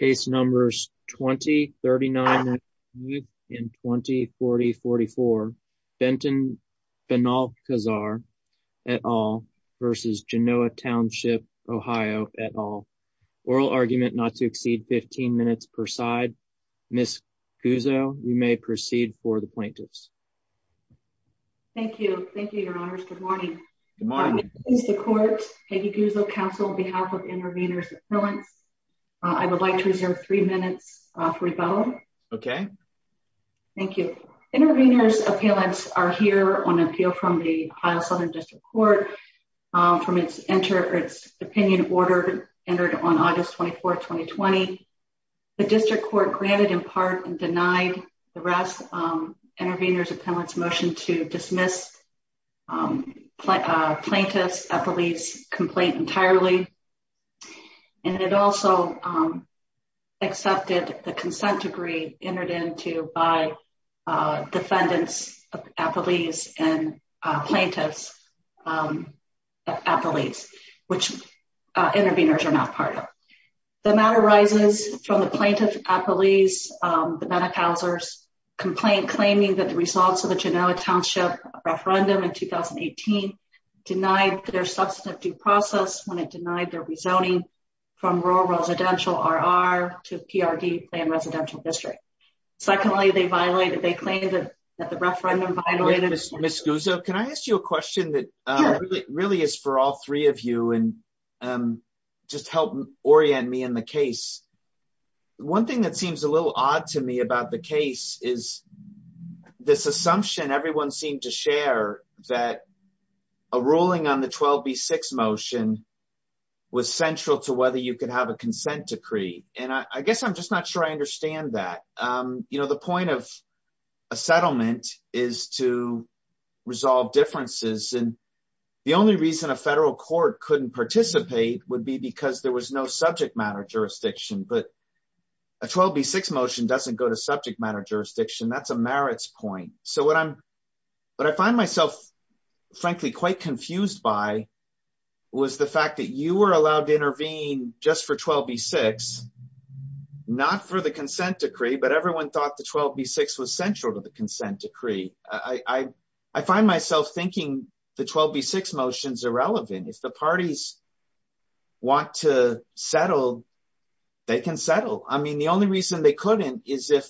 2039-2044 Benton Benalcazar v Genoa Township OH Oral argument not to exceed 15 minutes per side Ms. Guzzo, you may proceed for the plaintiffs Thank you. Thank you, your honors. Good morning. Good morning. It's the court, Peggy Guzzo, counsel on behalf of intervenors appellants. I would like to reserve three minutes for rebuttal. Okay. Thank you. Intervenors appellants are here on appeal from the Southern District Court from its enter its opinion order entered on August 24 2020. The district court granted in part and denied the rest intervenors appellants motion to dismiss plaintiffs a police complaint entirely. And it also accepted the consent degree entered into by defendants, a police and plaintiffs, a police which intervenors are not part of. The matter arises from the plaintiff appellees Benalcazar's complaint claiming that the results of the Genoa Township referendum in 2018 denied their substantive due process when it denied their rezoning from rural residential RR to PRD plan residential district. Secondly, they violated they claimed that the referendum violated. Ms. Guzzo, can I ask you a question that really is for all three of you and just help orient me in the case. One thing that seems a little odd to me about the case is this assumption everyone seemed to share that a ruling on the 12 be six motion was central to whether you could have a consent decree, and I guess I'm just not sure I understand that. You know the point of a settlement is to resolve differences and the only reason a federal court couldn't participate would be because there was no subject matter jurisdiction but a 12 be six motion doesn't go to subject matter jurisdiction that's a merits point. So what I'm, but I find myself, frankly, quite confused by was the fact that you were allowed to intervene, just for 12 be six, not for the consent decree but everyone thought the 12 be six was central to the consent decree, I, I find myself thinking the 12 be six motions irrelevant if the parties want to settle. They can settle, I mean the only reason they couldn't is if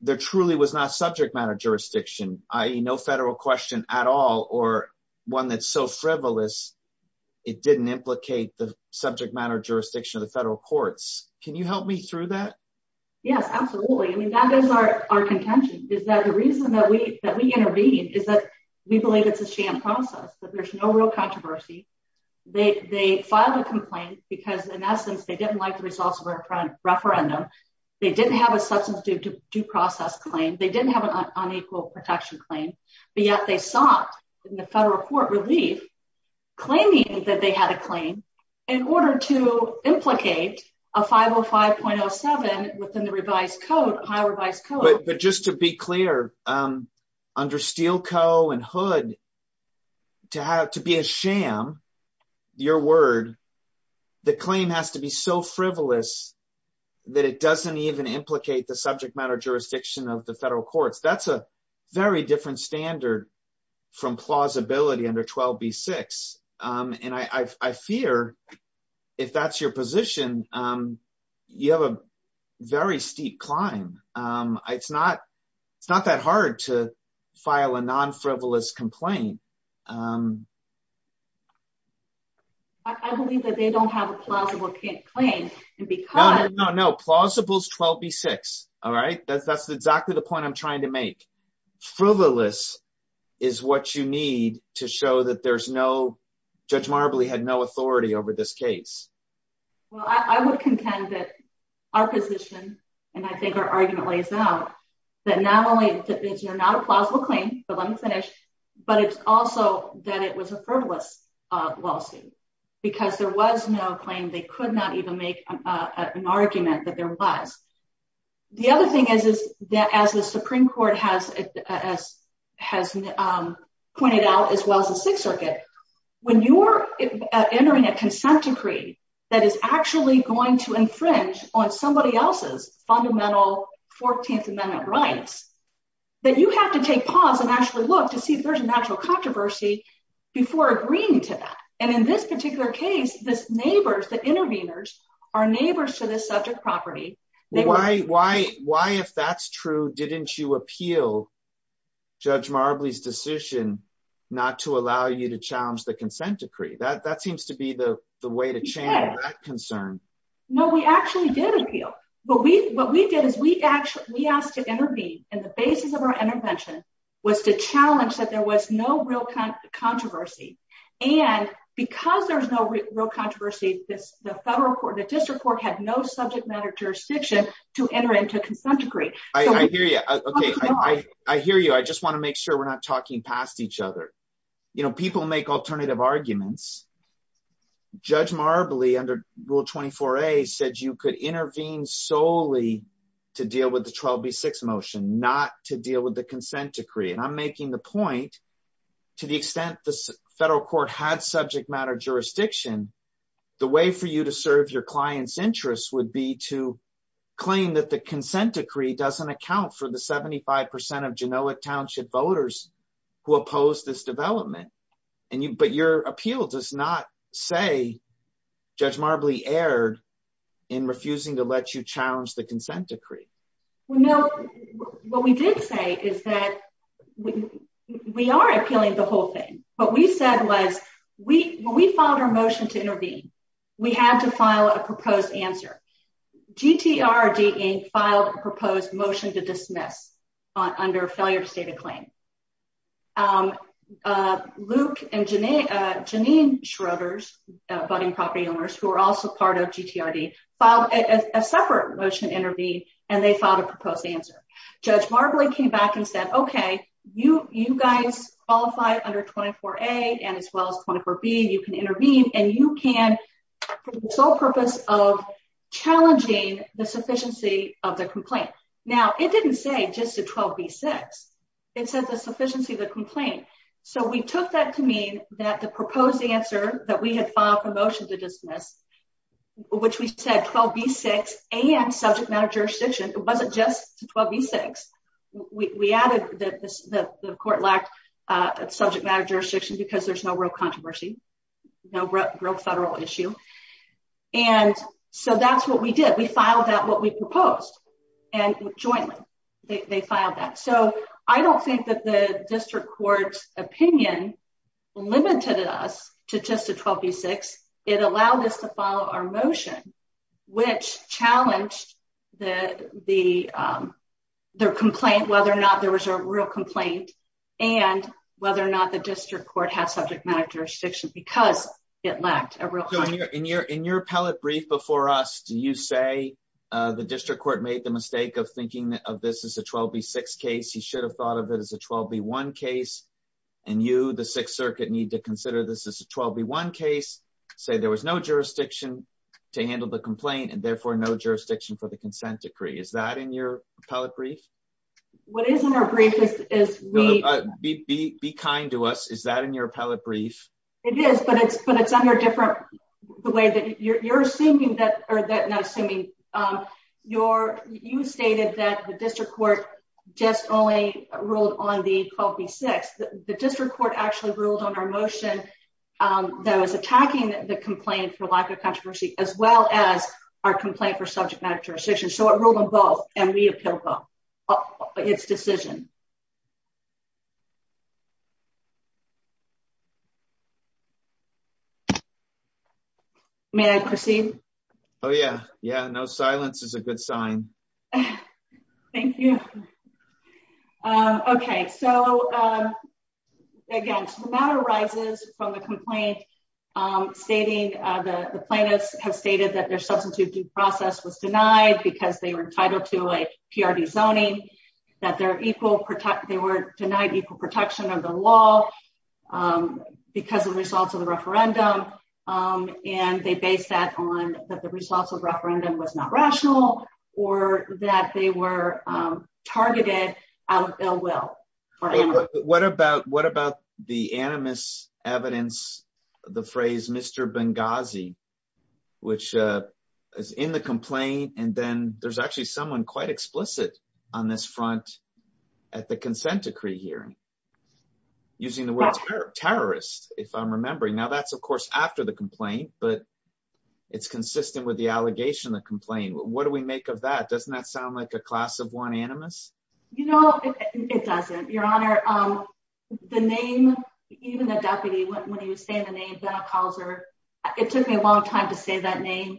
there truly was not subject matter jurisdiction, I know federal question at all, or one that's so frivolous. It didn't implicate the subject matter jurisdiction of the federal courts, can you help me through that. Yes, absolutely. I mean that is our, our contention is that the reason that we that we intervene is that we believe it's a sham process that there's no real controversy. They filed a complaint, because in essence they didn't like the results of our referendum. They didn't have a substance due process claim they didn't have an unequal protection claim. But yet they sought in the federal court relief, claiming that they had a claim in order to implicate a 505.07 within the revised code high revised code, but just to be clear. Under steel co and hood to have to be a sham. Your word. The claim has to be so frivolous that it doesn't even implicate the subject matter jurisdiction of the federal courts that's a very different standard from plausibility under 12 be six, and I fear if that's your position. You have a very steep climb. It's not, it's not that hard to file a non frivolous complaint. I believe that they don't have a plausible can't claim, and because No plausible 12 be six. All right, that's that's exactly the point I'm trying to make frivolous is what you need to show that there's no judge Marbley had no authority over this case. Well, I would contend that our position, and I think our argument lays out that not only is you're not a plausible claim, but let me finish, but it's also that it was a frivolous lawsuit, because there was no claim they could not even make an argument that there was. The other thing is, is that as the Supreme Court has as has pointed out, as well as the Sixth Circuit, when you're entering a consent decree that is actually going to infringe on somebody else's fundamental 14th Amendment rights. That you have to take pause and actually look to see if there's a natural controversy before agreeing to that. And in this particular case, this neighbors that interveners are neighbors to this subject property. Why, why, why, if that's true. Didn't you appeal judge Marbley's decision not to allow you to challenge the consent decree that that seems to be the way to change that concern. No, we actually did appeal, but we, what we did is we actually, we asked to intervene, and the basis of our intervention was to challenge that there was no real controversy. And because there's no real controversy, this, the federal court, the district court had no subject matter jurisdiction to enter into a consent decree. I hear you. Okay, I hear you. I just want to make sure we're not talking past each other. You know, people make alternative arguments. Judge Marbley under Rule 24a said you could intervene solely to deal with the 12b6 motion not to deal with the consent decree and I'm making the point. To the extent the federal court had subject matter jurisdiction, the way for you to serve your clients interests would be to claim that the consent decree doesn't account for the 75% of genomic township voters who opposed this development and you but your appeal does not say judge Marbley aired in refusing to let you challenge the consent decree. No, what we did say is that we are appealing the whole thing, but we said was we, we filed our motion to intervene. We had to file a proposed answer. GTRD filed a proposed motion to dismiss on under failure to state a claim. Luke and Janine Schroeder's budding property owners who are also part of GTRD filed a separate motion to intervene and they filed a proposed answer. Judge Marbley came back and said, okay, you, you guys qualify under 24a and as well as 24b, you can intervene and you can for the sole purpose of challenging the sufficiency of the complaint. Now, it didn't say just to 12b6, it said the sufficiency of the complaint. So we took that to mean that the proposed answer that we had filed a motion to dismiss, which we said 12b6 and subject matter jurisdiction, it wasn't just 12b6. We added that the court lacked subject matter jurisdiction because there's no real controversy, no real federal issue. And so that's what we did. We filed that what we proposed and jointly, they filed that. So I don't think that the district court's opinion limited us to just a 12b6. It allowed us to follow our motion, which challenged the, the, their complaint, whether or not there was a real complaint and whether or not the district court had subject matter jurisdiction because it lacked a real. In your, in your appellate brief before us, do you say the district court made the mistake of thinking of this as a 12b6 case, you should have thought of it as a 12b1 case. And you, the Sixth Circuit need to consider this as a 12b1 case, say there was no jurisdiction to handle the complaint and therefore no jurisdiction for the consent decree. Is that in your appellate brief? What is in our brief is we... Be, be, be kind to us. Is that in your appellate brief? It is, but it's, but it's under different, the way that you're, you're assuming that, or that not assuming your, you stated that the district court just only ruled on the 12b6. The district court actually ruled on our motion that was attacking the complaint for lack of controversy, as well as our complaint for subject matter jurisdiction. So it ruled on both and we appealed both, its decision. May I proceed? Oh yeah, yeah, no silence is a good sign. Thank you. Okay, so, again, the matter arises from the complaint, stating the plaintiffs have stated that their substitute due process was denied because they were entitled to a PRD zoning, that they're equal protect, they were denied equal protection of the law. Because of the results of the referendum. And they base that on that the results of referendum was not rational or that they were targeted out of ill will. What about, what about the animus evidence, the phrase Mr Benghazi, which is in the complaint and then there's actually someone quite explicit on this front. At the consent decree hearing. Using the word terrorist, if I'm remembering now that's of course after the complaint, but it's consistent with the allegation that complain what do we make of that doesn't that sound like a class of one animus. You know, it doesn't your honor. The name, even the deputy when he was saying the name that calls her. It took me a long time to say that name.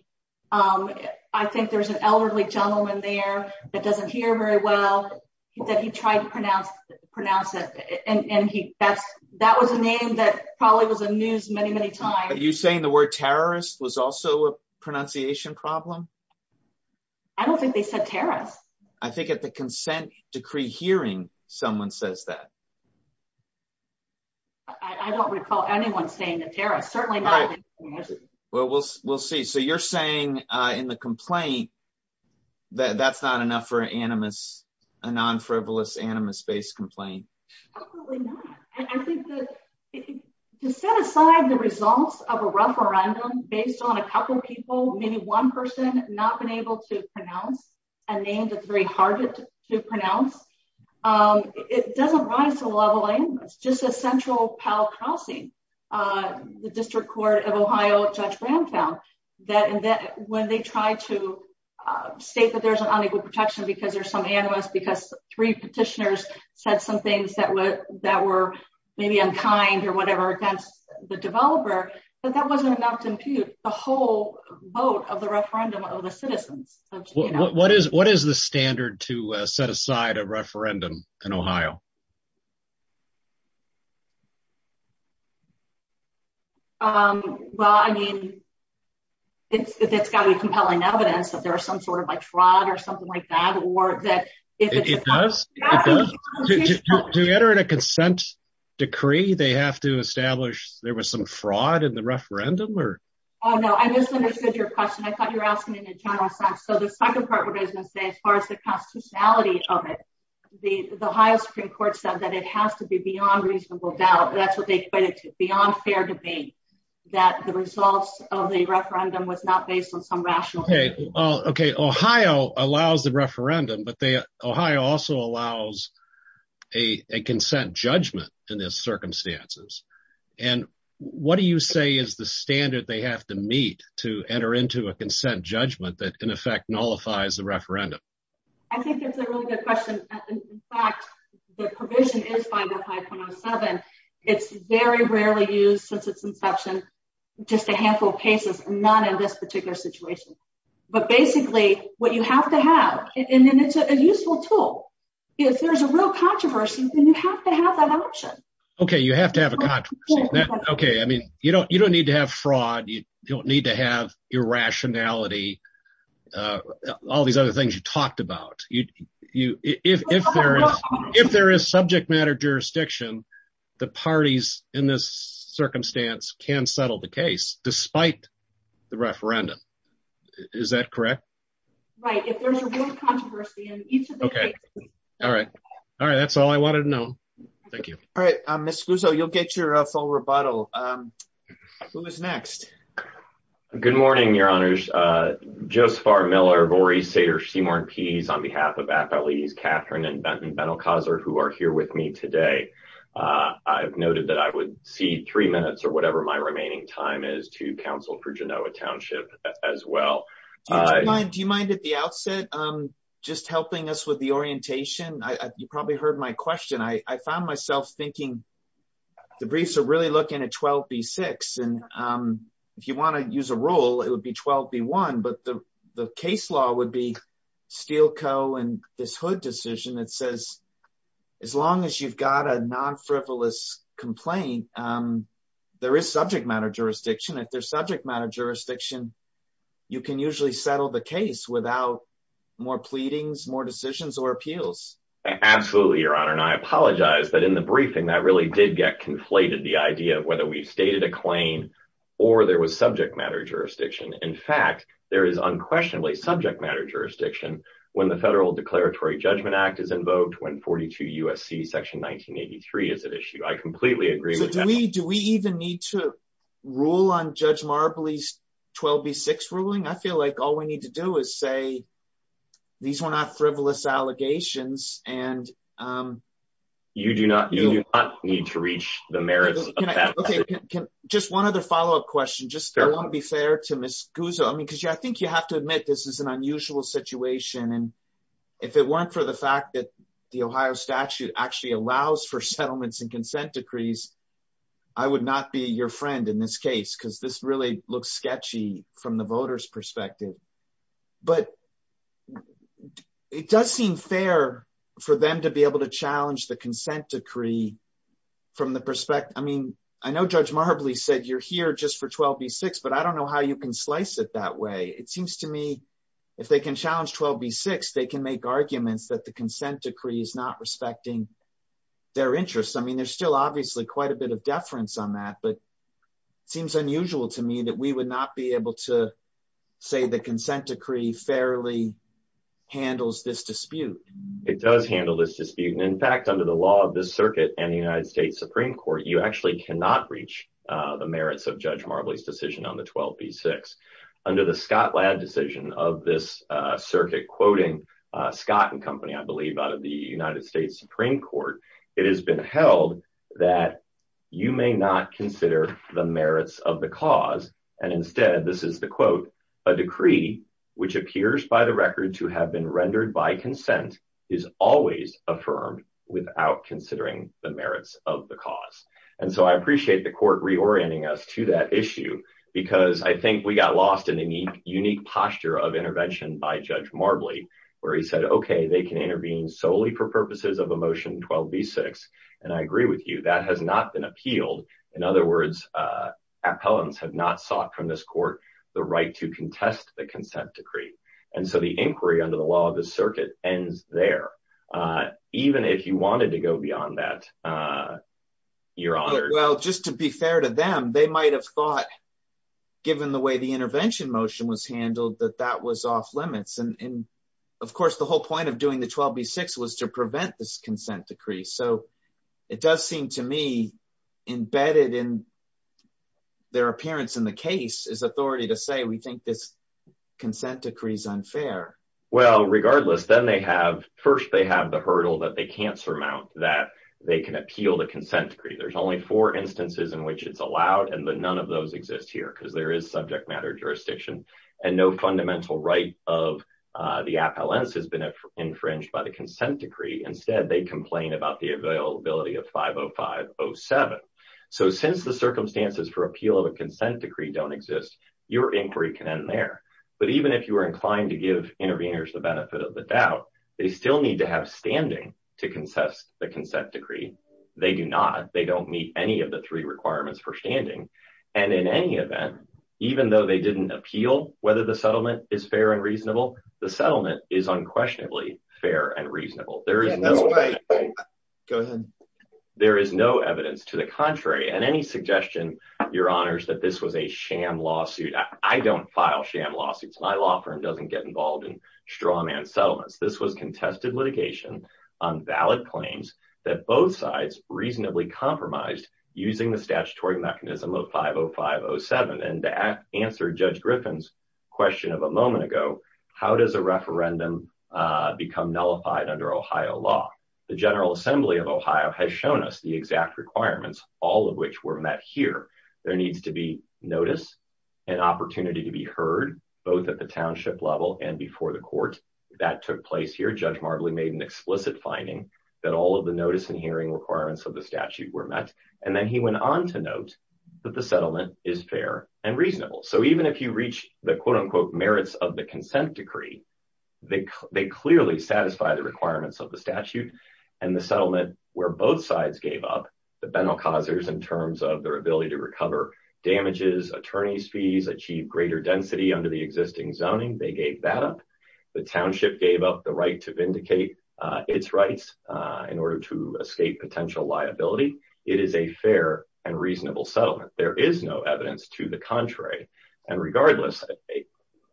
I think there's an elderly gentleman there that doesn't hear very well that he tried to pronounce pronounce it and he that's that was a name that probably was a news many, many times you saying the word terrorist was also a pronunciation problem. I don't think they said terrorists. I think at the consent decree hearing someone says that I don't recall anyone saying that Tara certainly Well, we'll, we'll see. So you're saying in the complaint that that's not enough for animus a non frivolous animus based complaint. To set aside the results of a referendum based on a couple people, maybe one person not been able to pronounce a name that's very hard to pronounce. It doesn't rise to level. It's just a central pal crossing. The District Court of Ohio. Judge Brown found that and that when they try to State that there's an unequal protection because there's some animus because three petitioners said some things that were that were maybe unkind or whatever against the developer, but that wasn't enough to impute the whole vote of the referendum of the citizens. What is, what is the standard to set aside a referendum in Ohio. Well, I mean, It's got to be compelling evidence that there are some sort of like fraud or something like that, or that it does Enter in a consent decree, they have to establish there was some fraud in the referendum or No, I just understood your question. I thought you're asking in a general sense. So the second part of business as far as the constitutionality of it. The highest Supreme Court said that it has to be beyond reasonable doubt. That's what they equated to beyond fair debate that the results of the referendum was not based on some rational Okay. Okay. Ohio allows the referendum, but they Ohio also allows a consent judgment in this circumstances. And what do you say is the standard they have to meet to enter into a consent judgment that can affect nullifies the referendum. I think it's a really good question. The provision is It's very rarely use since its inception, just a handful of cases, not in this particular situation, but basically what you have to have. And then it's a useful tool. If there's a real controversy. Okay, you have to have a Okay. I mean, you don't, you don't need to have fraud. You don't need to have your rationality. All these other things you talked about you if there is if there is subject matter jurisdiction, the parties in this circumstance can settle the case, despite the referendum. Is that correct, right. Okay. All right. All right. That's all I wanted to know. Thank you. All right, I'm a school so you'll get your full rebuttal. Who is next. Good morning, your honors. Just far Miller Boris Sater Seymour and peas on behalf of at least Catherine and Benton Benton causer who are here with me today. I've noted that I would see three minutes or whatever my remaining time is to counsel for Genoa township as well. Do you mind at the outset. I'm just helping us with the orientation. I, you probably heard my question. I found myself thinking. The briefs are really looking at 12 be six and if you want to use a rule, it would be 12 be one. But the, the case law would be steel co and this hood decision that says, as long as you've got a non frivolous complaint. There is subject matter jurisdiction. If there's subject matter jurisdiction, you can usually settle the case without more pleadings more decisions or appeals. Absolutely, your honor and I apologize, but in the briefing that really did get conflated the idea of whether we've stated a claim, or there was subject matter jurisdiction. In fact, there is unquestionably subject matter jurisdiction, when the Federal Declaratory Judgment Act is invoked when 42 USC section 1983 is an issue I completely agree with me. Do we even need to rule on Judge Marbley's 12 be six ruling I feel like all we need to do is say these were not frivolous allegations and you do not need to reach the merits. Just one other follow up question just to be fair to Miss Guzman because you I think you have to admit this is an unusual situation and if it weren't for the fact that the Ohio statute actually allows for settlements and consent decrees. I would not be your friend in this case because this really looks sketchy from the voters perspective, but It does seem fair for them to be able to challenge the consent decree. From the perspective. I mean, I know Judge Marbley said you're here just for 12 be six, but I don't know how you can slice it that way. It seems to me. If they can challenge 12 be six, they can make arguments that the consent decree is not respecting their interests. I mean, there's still obviously quite a bit of deference on that, but seems unusual to me that we would not be able to say the consent decree fairly handles this dispute. It does handle this dispute. And in fact, under the law of this circuit and the United States Supreme Court, you actually cannot reach the merits of Judge Marbley's decision on the 12 be six. Under the Scotland decision of this circuit quoting Scott and company. I believe out of the United States Supreme Court, it has been held that You may not consider the merits of the cause. And instead, this is the quote a decree which appears by the record to have been rendered by consent is always affirmed without considering the merits of the cause. And so I appreciate the court reorienting us to that issue because I think we got lost in a neat unique posture of intervention by Judge Marbley where he said, Okay, they can intervene solely for purposes of emotion 12 be six. And I agree with you that has not been appealed. In other words, appellants have not sought from this court, the right to contest the consent decree. And so the inquiry under the law of the circuit ends there. Even if you wanted to go beyond that. Your honor. Well, just to be fair to them, they might have thought, given the way the intervention motion was handled that that was off limits and of course the whole point of doing the 12 be six was to prevent this consent decree. So it does seem to me embedded in Their appearance in the case is authority to say we think this consent decrees unfair. Well, regardless, then they have first they have the hurdle that they can't surmount that they can appeal the consent decree. There's only four instances in which it's allowed and the none of those exist here because there is subject matter jurisdiction and no fundamental right of The appellants has been infringed by the consent decree. Instead, they complain about the availability of 50507 So since the circumstances for appeal of a consent decree don't exist, your inquiry can end there. But even if you are inclined to give interveners, the benefit of the doubt. They still need to have standing to concess the consent decree. They do not. They don't meet any of the three requirements for standing and in any event, even though they didn't appeal, whether the settlement is fair and reasonable the settlement is unquestionably fair and reasonable. There is Go ahead. There is no evidence to the contrary, and any suggestion, your honors, that this was a sham lawsuit. I don't file sham lawsuits my law firm doesn't get involved in straw man settlements. This was contested litigation on valid claims that both sides reasonably compromised using the statutory mechanism of 50507 and To add answer judge Griffin's question of a moment ago. How does a referendum become nullified under Ohio law, the General Assembly of Ohio has shown us the exact requirements, all of which were met here, there needs to be notice. An opportunity to be heard, both at the township level and before the court that took place here judge Marbley made an explicit finding that all of the notice and hearing requirements of the statute were met. And then he went on to note that the settlement is fair and reasonable. So even if you reach the quote unquote merits of the consent decree. They clearly satisfy the requirements of the statute and the settlement, where both sides gave up the Benel causers in terms of their ability to recover damages attorneys fees achieve greater density under the existing zoning, they gave that up. The township gave up the right to vindicate its rights in order to escape potential liability. It is a fair and reasonable settlement, there is no evidence to the contrary. And regardless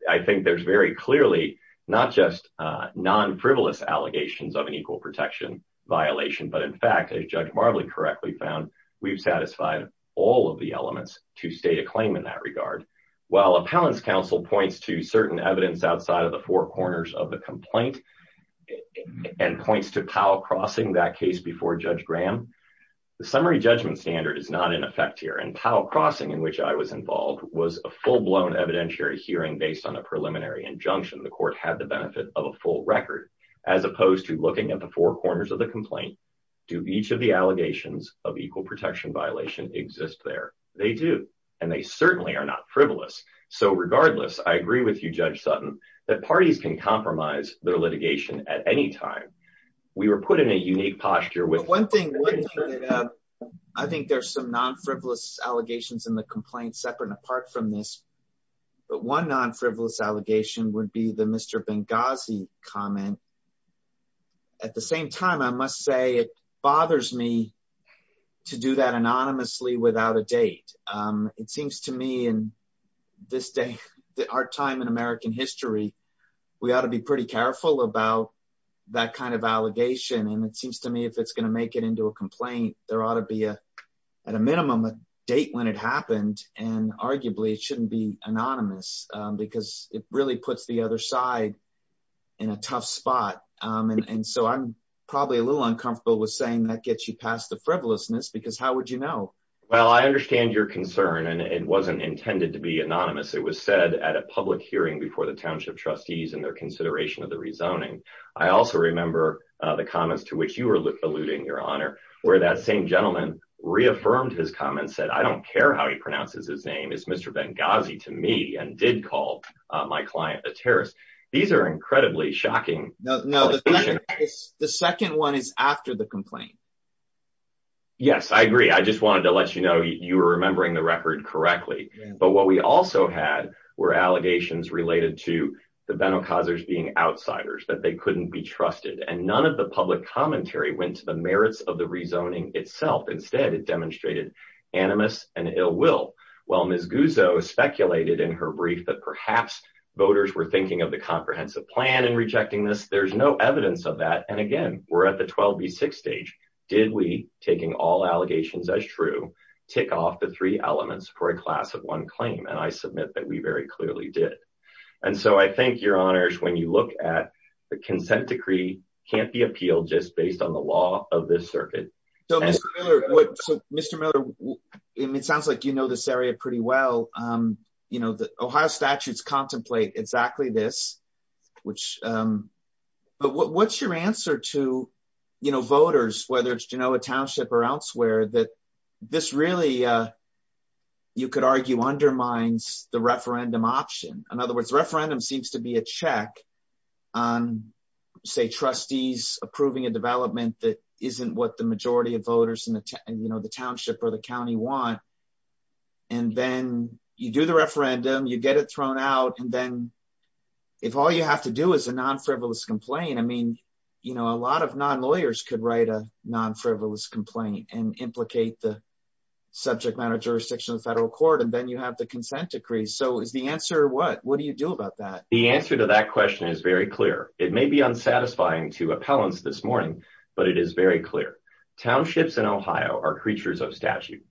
I think there's very clearly not just non frivolous allegations of an equal protection violation. But in fact, a judge Marley correctly found we've satisfied all of the elements to state a claim in that regard. While appellants counsel points to certain evidence outside of the four corners of the complaint and points to power crossing that case before Judge Graham. The summary judgment standard is not in effect here and power crossing in which I was involved was a full blown evidentiary hearing based on a preliminary injunction the court had the benefit of a full record. As opposed to looking at the four corners of the complaint. Do each of the allegations of equal protection violation exists there. They do. And they certainly are not frivolous. So regardless, I agree with you, Judge Sutton that parties can compromise their litigation at any time we were put in a unique posture with one thing. I think there's some non frivolous allegations in the complaint, separate and apart from this, but one non frivolous allegation would be the Mr Benghazi comment. At the same time, I must say it bothers me to do that anonymously without a date. It seems to me and this day that our time in American history. We ought to be pretty careful about that kind of allegation and it seems to me if it's going to make it into a complaint, there ought to be a at a minimum a date when it happened, and arguably it shouldn't be anonymous, because it really puts the other side in a tough spot. And so I'm probably a little uncomfortable with saying that gets you past the frivolousness because how would you know. Well, I understand your concern and it wasn't intended to be anonymous. It was said at a public hearing before the township trustees and their consideration of the rezoning. I also remember the comments to which you were alluding, Your Honor, where that same gentleman reaffirmed his comments said, I don't care how he pronounces his name is Mr Benghazi to me and did call my client a terrorist. These are incredibly shocking. No, the second one is after the complaint. Yes, I agree. I just wanted to let you know you were remembering the record correctly. But what we also had were allegations related to the Beno causers being outsiders that they couldn't be trusted and none of the public commentary went to the merits of the rezoning itself. Instead, it demonstrated animus and ill will. While Ms Guzzo speculated in her brief that perhaps voters were thinking of the comprehensive plan and rejecting this, there's no evidence of that. And again, we're at the 12B6 stage. Did we, taking all allegations as true, tick off the three elements for a class of one claim? And I submit that we very clearly did. And so I think, Your Honors, when you look at the consent decree can't be appealed just based on the law of this circuit. So, Mr. Miller, it sounds like you know this area pretty well. The Ohio statutes contemplate exactly this. But what's your answer to voters, whether it's Genoa Township or elsewhere, that this really, you could argue, undermines the referendum option? In other words, referendum seems to be a check on, say, trustees approving a development that isn't what the majority of voters in the township or the county want. And then you do the referendum, you get it thrown out, and then if all you have to do is a non-frivolous complaint, I mean, you know, a lot of non-lawyers could write a non-frivolous complaint and implicate the subject matter jurisdiction of the federal court, and then you have the consent decree. So is the answer what? What do you do about that? The answer to that question is very clear. It may be unsatisfying to appellants this morning, but it is very clear. Townships in Ohio are creatures of statute.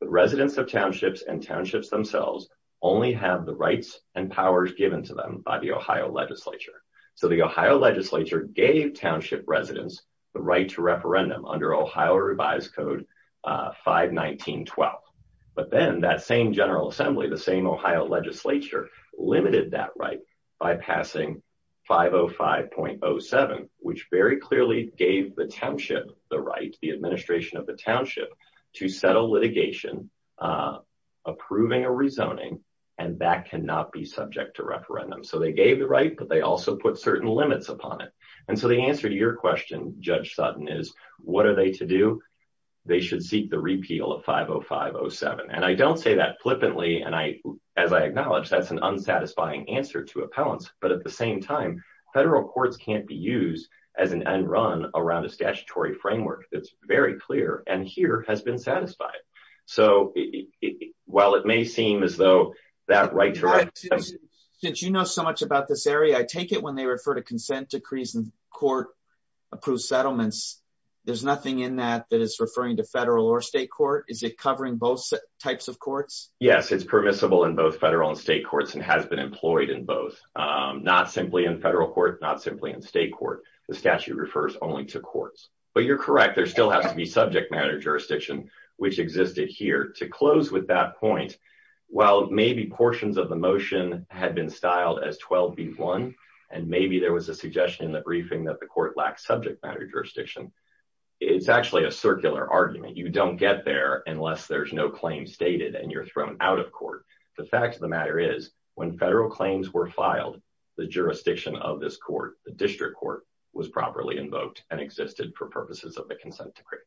The residents of townships and townships themselves only have the rights and powers given to them by the Ohio legislature. So the Ohio legislature gave township residents the right to referendum under Ohio Revised Code 519.12. But then that same general assembly, the same Ohio legislature, limited that right by passing 505.07, which very clearly gave the township the right, the administration of the township, to settle litigation, approving a rezoning, and that cannot be subject to referendum. So they gave the right, but they also put certain limits upon it. And so the answer to your question, Judge Sutton, is what are they to do? They should seek the repeal of 505.07. And I don't say that flippantly, and as I acknowledge, that's an unsatisfying answer to appellants. But at the same time, federal courts can't be used as an end run around a statutory framework that's very clear and here has been satisfied. So while it may seem as though that right to referendum… Judge, since you know so much about this area, I take it when they refer to consent decrees in court-approved settlements, there's nothing in that that is referring to federal or state court? Is it covering both types of courts? Yes, it's permissible in both federal and state courts and has been employed in both. Not simply in federal court, not simply in state court. The statute refers only to courts. But you're correct. There still has to be subject matter jurisdiction, which existed here. To close with that point, while maybe portions of the motion had been styled as 12B1, and maybe there was a suggestion in the briefing that the court lacked subject matter jurisdiction, it's actually a circular argument. You don't get there unless there's no claim stated and you're thrown out of court. The fact of the matter is, when federal claims were filed, the jurisdiction of this court, the district court, was properly invoked and existed for purposes of the consent decree.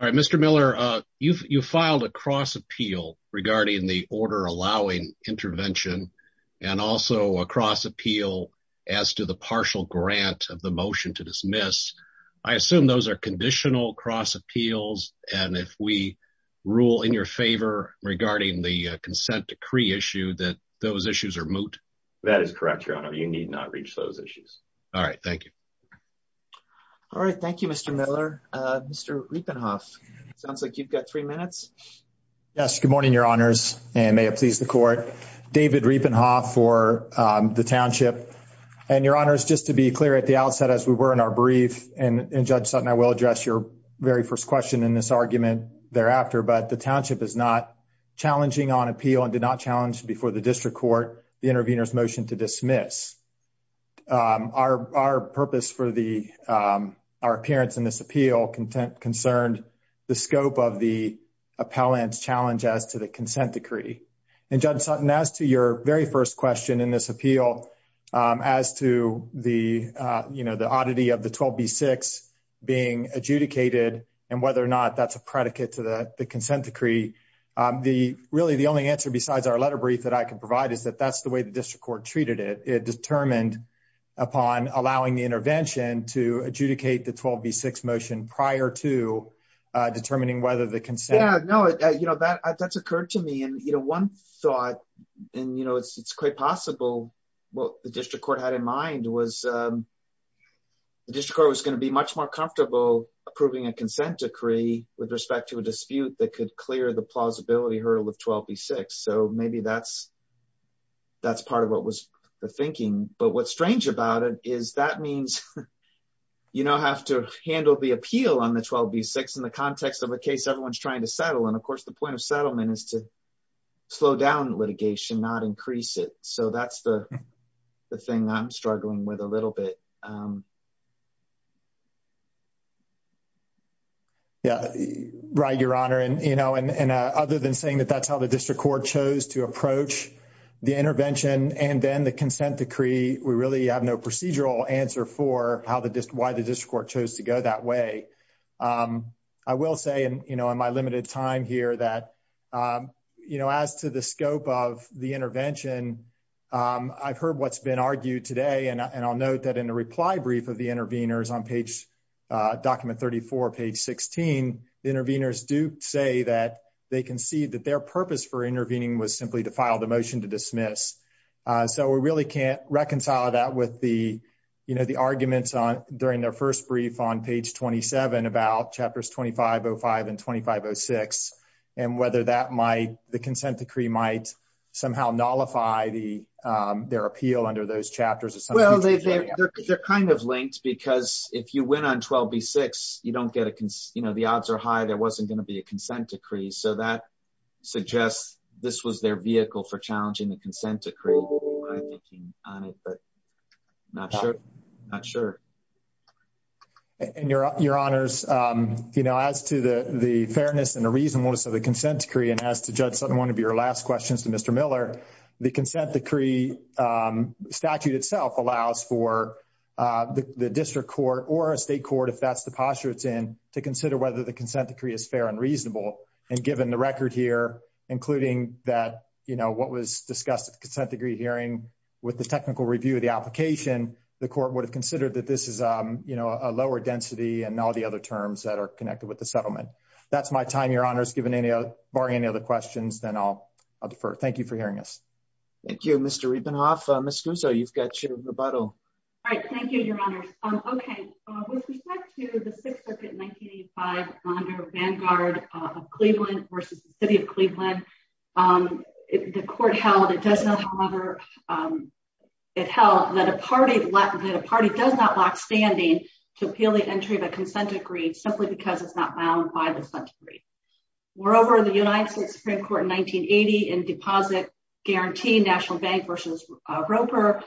All right, Mr. Miller, you filed a cross appeal regarding the order allowing intervention and also a cross appeal as to the partial grant of the motion to dismiss. I assume those are conditional cross appeals, and if we rule in your favor regarding the consent decree issue, that those issues are moot? That is correct, Your Honor. You need not reach those issues. All right, thank you. All right, thank you, Mr. Miller. Mr. Riepenhoff, it sounds like you've got three minutes. Yes, good morning, Your Honors, and may it please the court. David Riepenhoff for the township. And, Your Honors, just to be clear at the outset, as we were in our brief, and Judge Sutton, I will address your very first question in this argument thereafter, but the township is not challenging on appeal and did not challenge before the district court the intervener's motion to dismiss. Our purpose for our appearance in this appeal concerned the scope of the appellant's challenge as to the consent decree. And, Judge Sutton, as to your very first question in this appeal as to the oddity of the 12B6 being adjudicated and whether or not that's a predicate to the consent decree, really, the only answer besides our letter brief that I can provide is that that's the way the district court treated it. It determined upon allowing the intervention to adjudicate the 12B6 motion prior to determining whether the consent… Yeah, no, that's occurred to me. And, you know, one thought, and, you know, it's quite possible, what the district court had in mind was the district court was going to be much more comfortable approving a consent decree with respect to a dispute that could clear the plausibility hurdle of 12B6. So maybe that's part of what was the thinking. But what's strange about it is that means you now have to handle the appeal on the 12B6 in the context of a case everyone's trying to settle. And, of course, the point of settlement is to slow down litigation, not increase it. So that's the thing I'm struggling with a little bit. Yeah, right, Your Honor. And, you know, and other than saying that that's how the district court chose to approach the intervention and then the consent decree, we really have no procedural answer for how the…why the district court chose to go that way. I will say, you know, in my limited time here that, you know, as to the scope of the intervention, I've heard what's been argued today. And I'll note that in the reply brief of the interveners on page…document 34, page 16, the interveners do say that they concede that their purpose for intervening was simply to file the motion to dismiss. So we really can't reconcile that with the, you know, the arguments on…during their first brief on page 27 about chapters 2505 and 2506 and whether that might…the consent decree might somehow nullify the…their appeal under those chapters. Well, they're kind of linked because if you went on 12b-6, you don't get a…you know, the odds are high there wasn't going to be a consent decree. So that suggests this was their vehicle for challenging the consent decree. I'm thinking on it, but not sure. Not sure. And Your Honors, you know, as to the fairness and the reasonableness of the consent decree and as to Judge Sutton, one of your last questions to Mr. Miller, the consent decree statute itself allows for the district court or a state court, if that's the posture it's in, to consider whether the consent decree is fair and reasonable. And given the record here, including that, you know, what was discussed at the consent decree hearing with the technical review of the application, the court would have considered that this is, you know, a lower density and all the other terms that are connected with the settlement. That's my time, Your Honors, given any other…barring any other questions, then I'll defer. Thank you for hearing us. Thank you, Mr. Riebenhoff. Ms. Guzzo, you've got your rebuttal. All right. Thank you, Your Honors. Okay. With respect to the Sixth Circuit in 1985 under Vanguard of Cleveland versus the City of Cleveland, the court held, it does not however, it held that a party does not lock standing to appeal the entry of a consent decree simply because it's not bound by the consent decree. Moreover, the United States Supreme Court in 1980 in deposit guaranteed National Bank versus Roper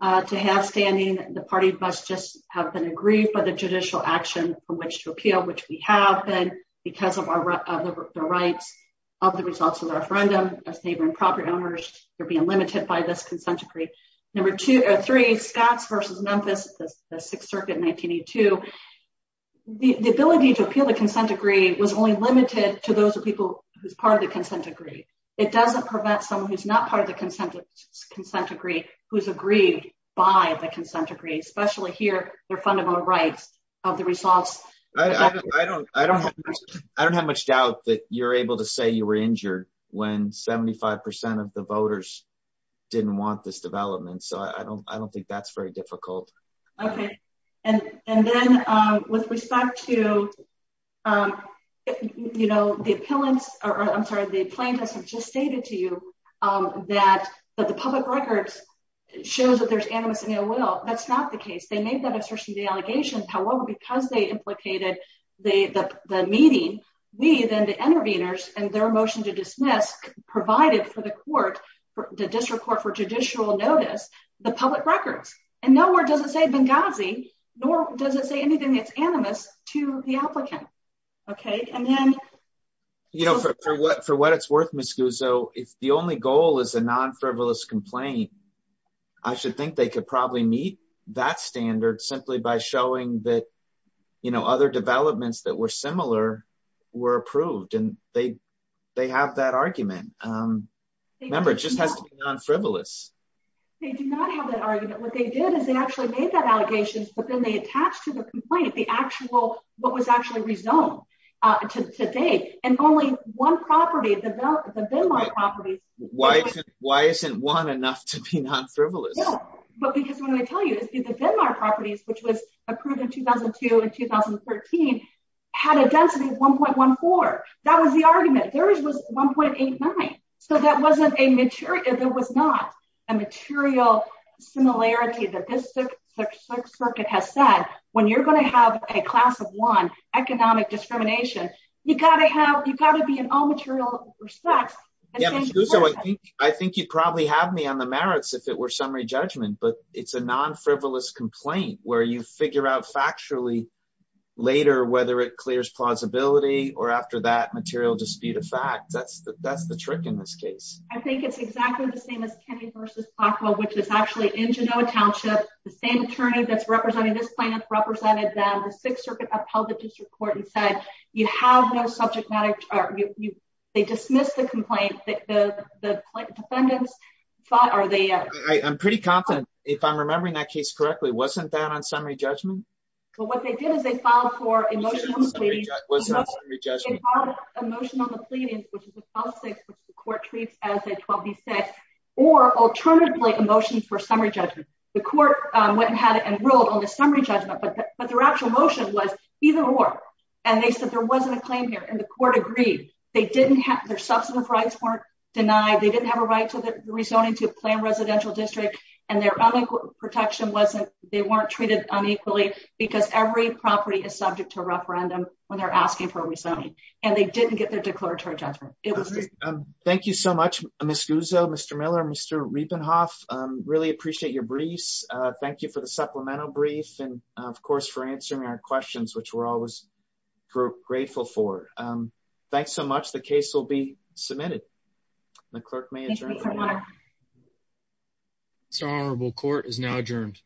to have standing. The party must just have been agreed by the judicial action from which to appeal, which we have been because of the rights of the results of the referendum. As neighbor and property owners, you're being limited by this consent decree. Number two or three, Scots versus Memphis, the Sixth Circuit in 1982, the ability to appeal the consent decree was only limited to those people who's part of the consent decree. It doesn't prevent someone who's not part of the consent decree, who's agreed by the consent decree, especially here, their fundamental rights of the results. I don't have much doubt that you're able to say you were injured when 75% of the voters didn't want this development. So I don't think that's very difficult. Okay. And, and then, with respect to, you know, the appellants, or I'm sorry the plaintiffs have just stated to you that the public records shows that there's animus in your will, that's not the case they made that assertion the allegations, however, because they implicated the meeting, we then the intervenors, and their motion to dismiss provided for the court for the district court for judicial notice, the public records, and nowhere does it say Benghazi, nor does it say anything that's animus to the applicant. Okay, and then, you know, for what for what it's worth Miss Guzzo, if the only goal is a non frivolous complaint. I should think they could probably meet that standard simply by showing that, you know, other developments that were similar were approved and they, they have that argument. Remember, it just has to be non frivolous. They do not have that argument what they did is they actually made that allegations but then they attached to the complaint, the actual, what was actually resumed today, and only one property of the property. Why, why isn't one enough to be non frivolous. But because when I tell you is the properties which was approved in 2002 and 2013 had a density of 1.14. That was the argument there is was 1.89. So that wasn't a mature if it was not a material similarity that this circuit has said, when you're going to have a class of one economic discrimination, you gotta have, you gotta be in all material respects. So I think, I think you probably have me on the merits if it were summary judgment but it's a non frivolous complaint where you figure out factually later whether it clears plausibility or after that material dispute of fact that's that's the trick in this case, I think it's exactly the same as you have no subject matter. They dismiss the complaint that the defendants thought are they. I'm pretty confident if I'm remembering that case correctly wasn't that on summary judgment. So what they did is they filed for emotional emotional pleading, which is the court treats as a 12 he said, or alternatively emotions for summary judgment, the court went and had enrolled on the summary judgment but but their actual motion was either or. And they said there wasn't a claim here and the court agreed, they didn't have their substantive rights weren't denied they didn't have a right to the rezoning to plan residential district, and their protection wasn't, they weren't treated on equally, because every property is subject to referendum, when they're asking for rezoning, and they didn't get their declaratory judgment. It was. Thank you so much, Miss Guzzo Mr Miller Mr Riepenhoff really appreciate your briefs. Thank you for the supplemental brief and of course for answering our questions which we're always grateful for. Thanks so much the case will be submitted. The clerk manager. Honorable court is now adjourned.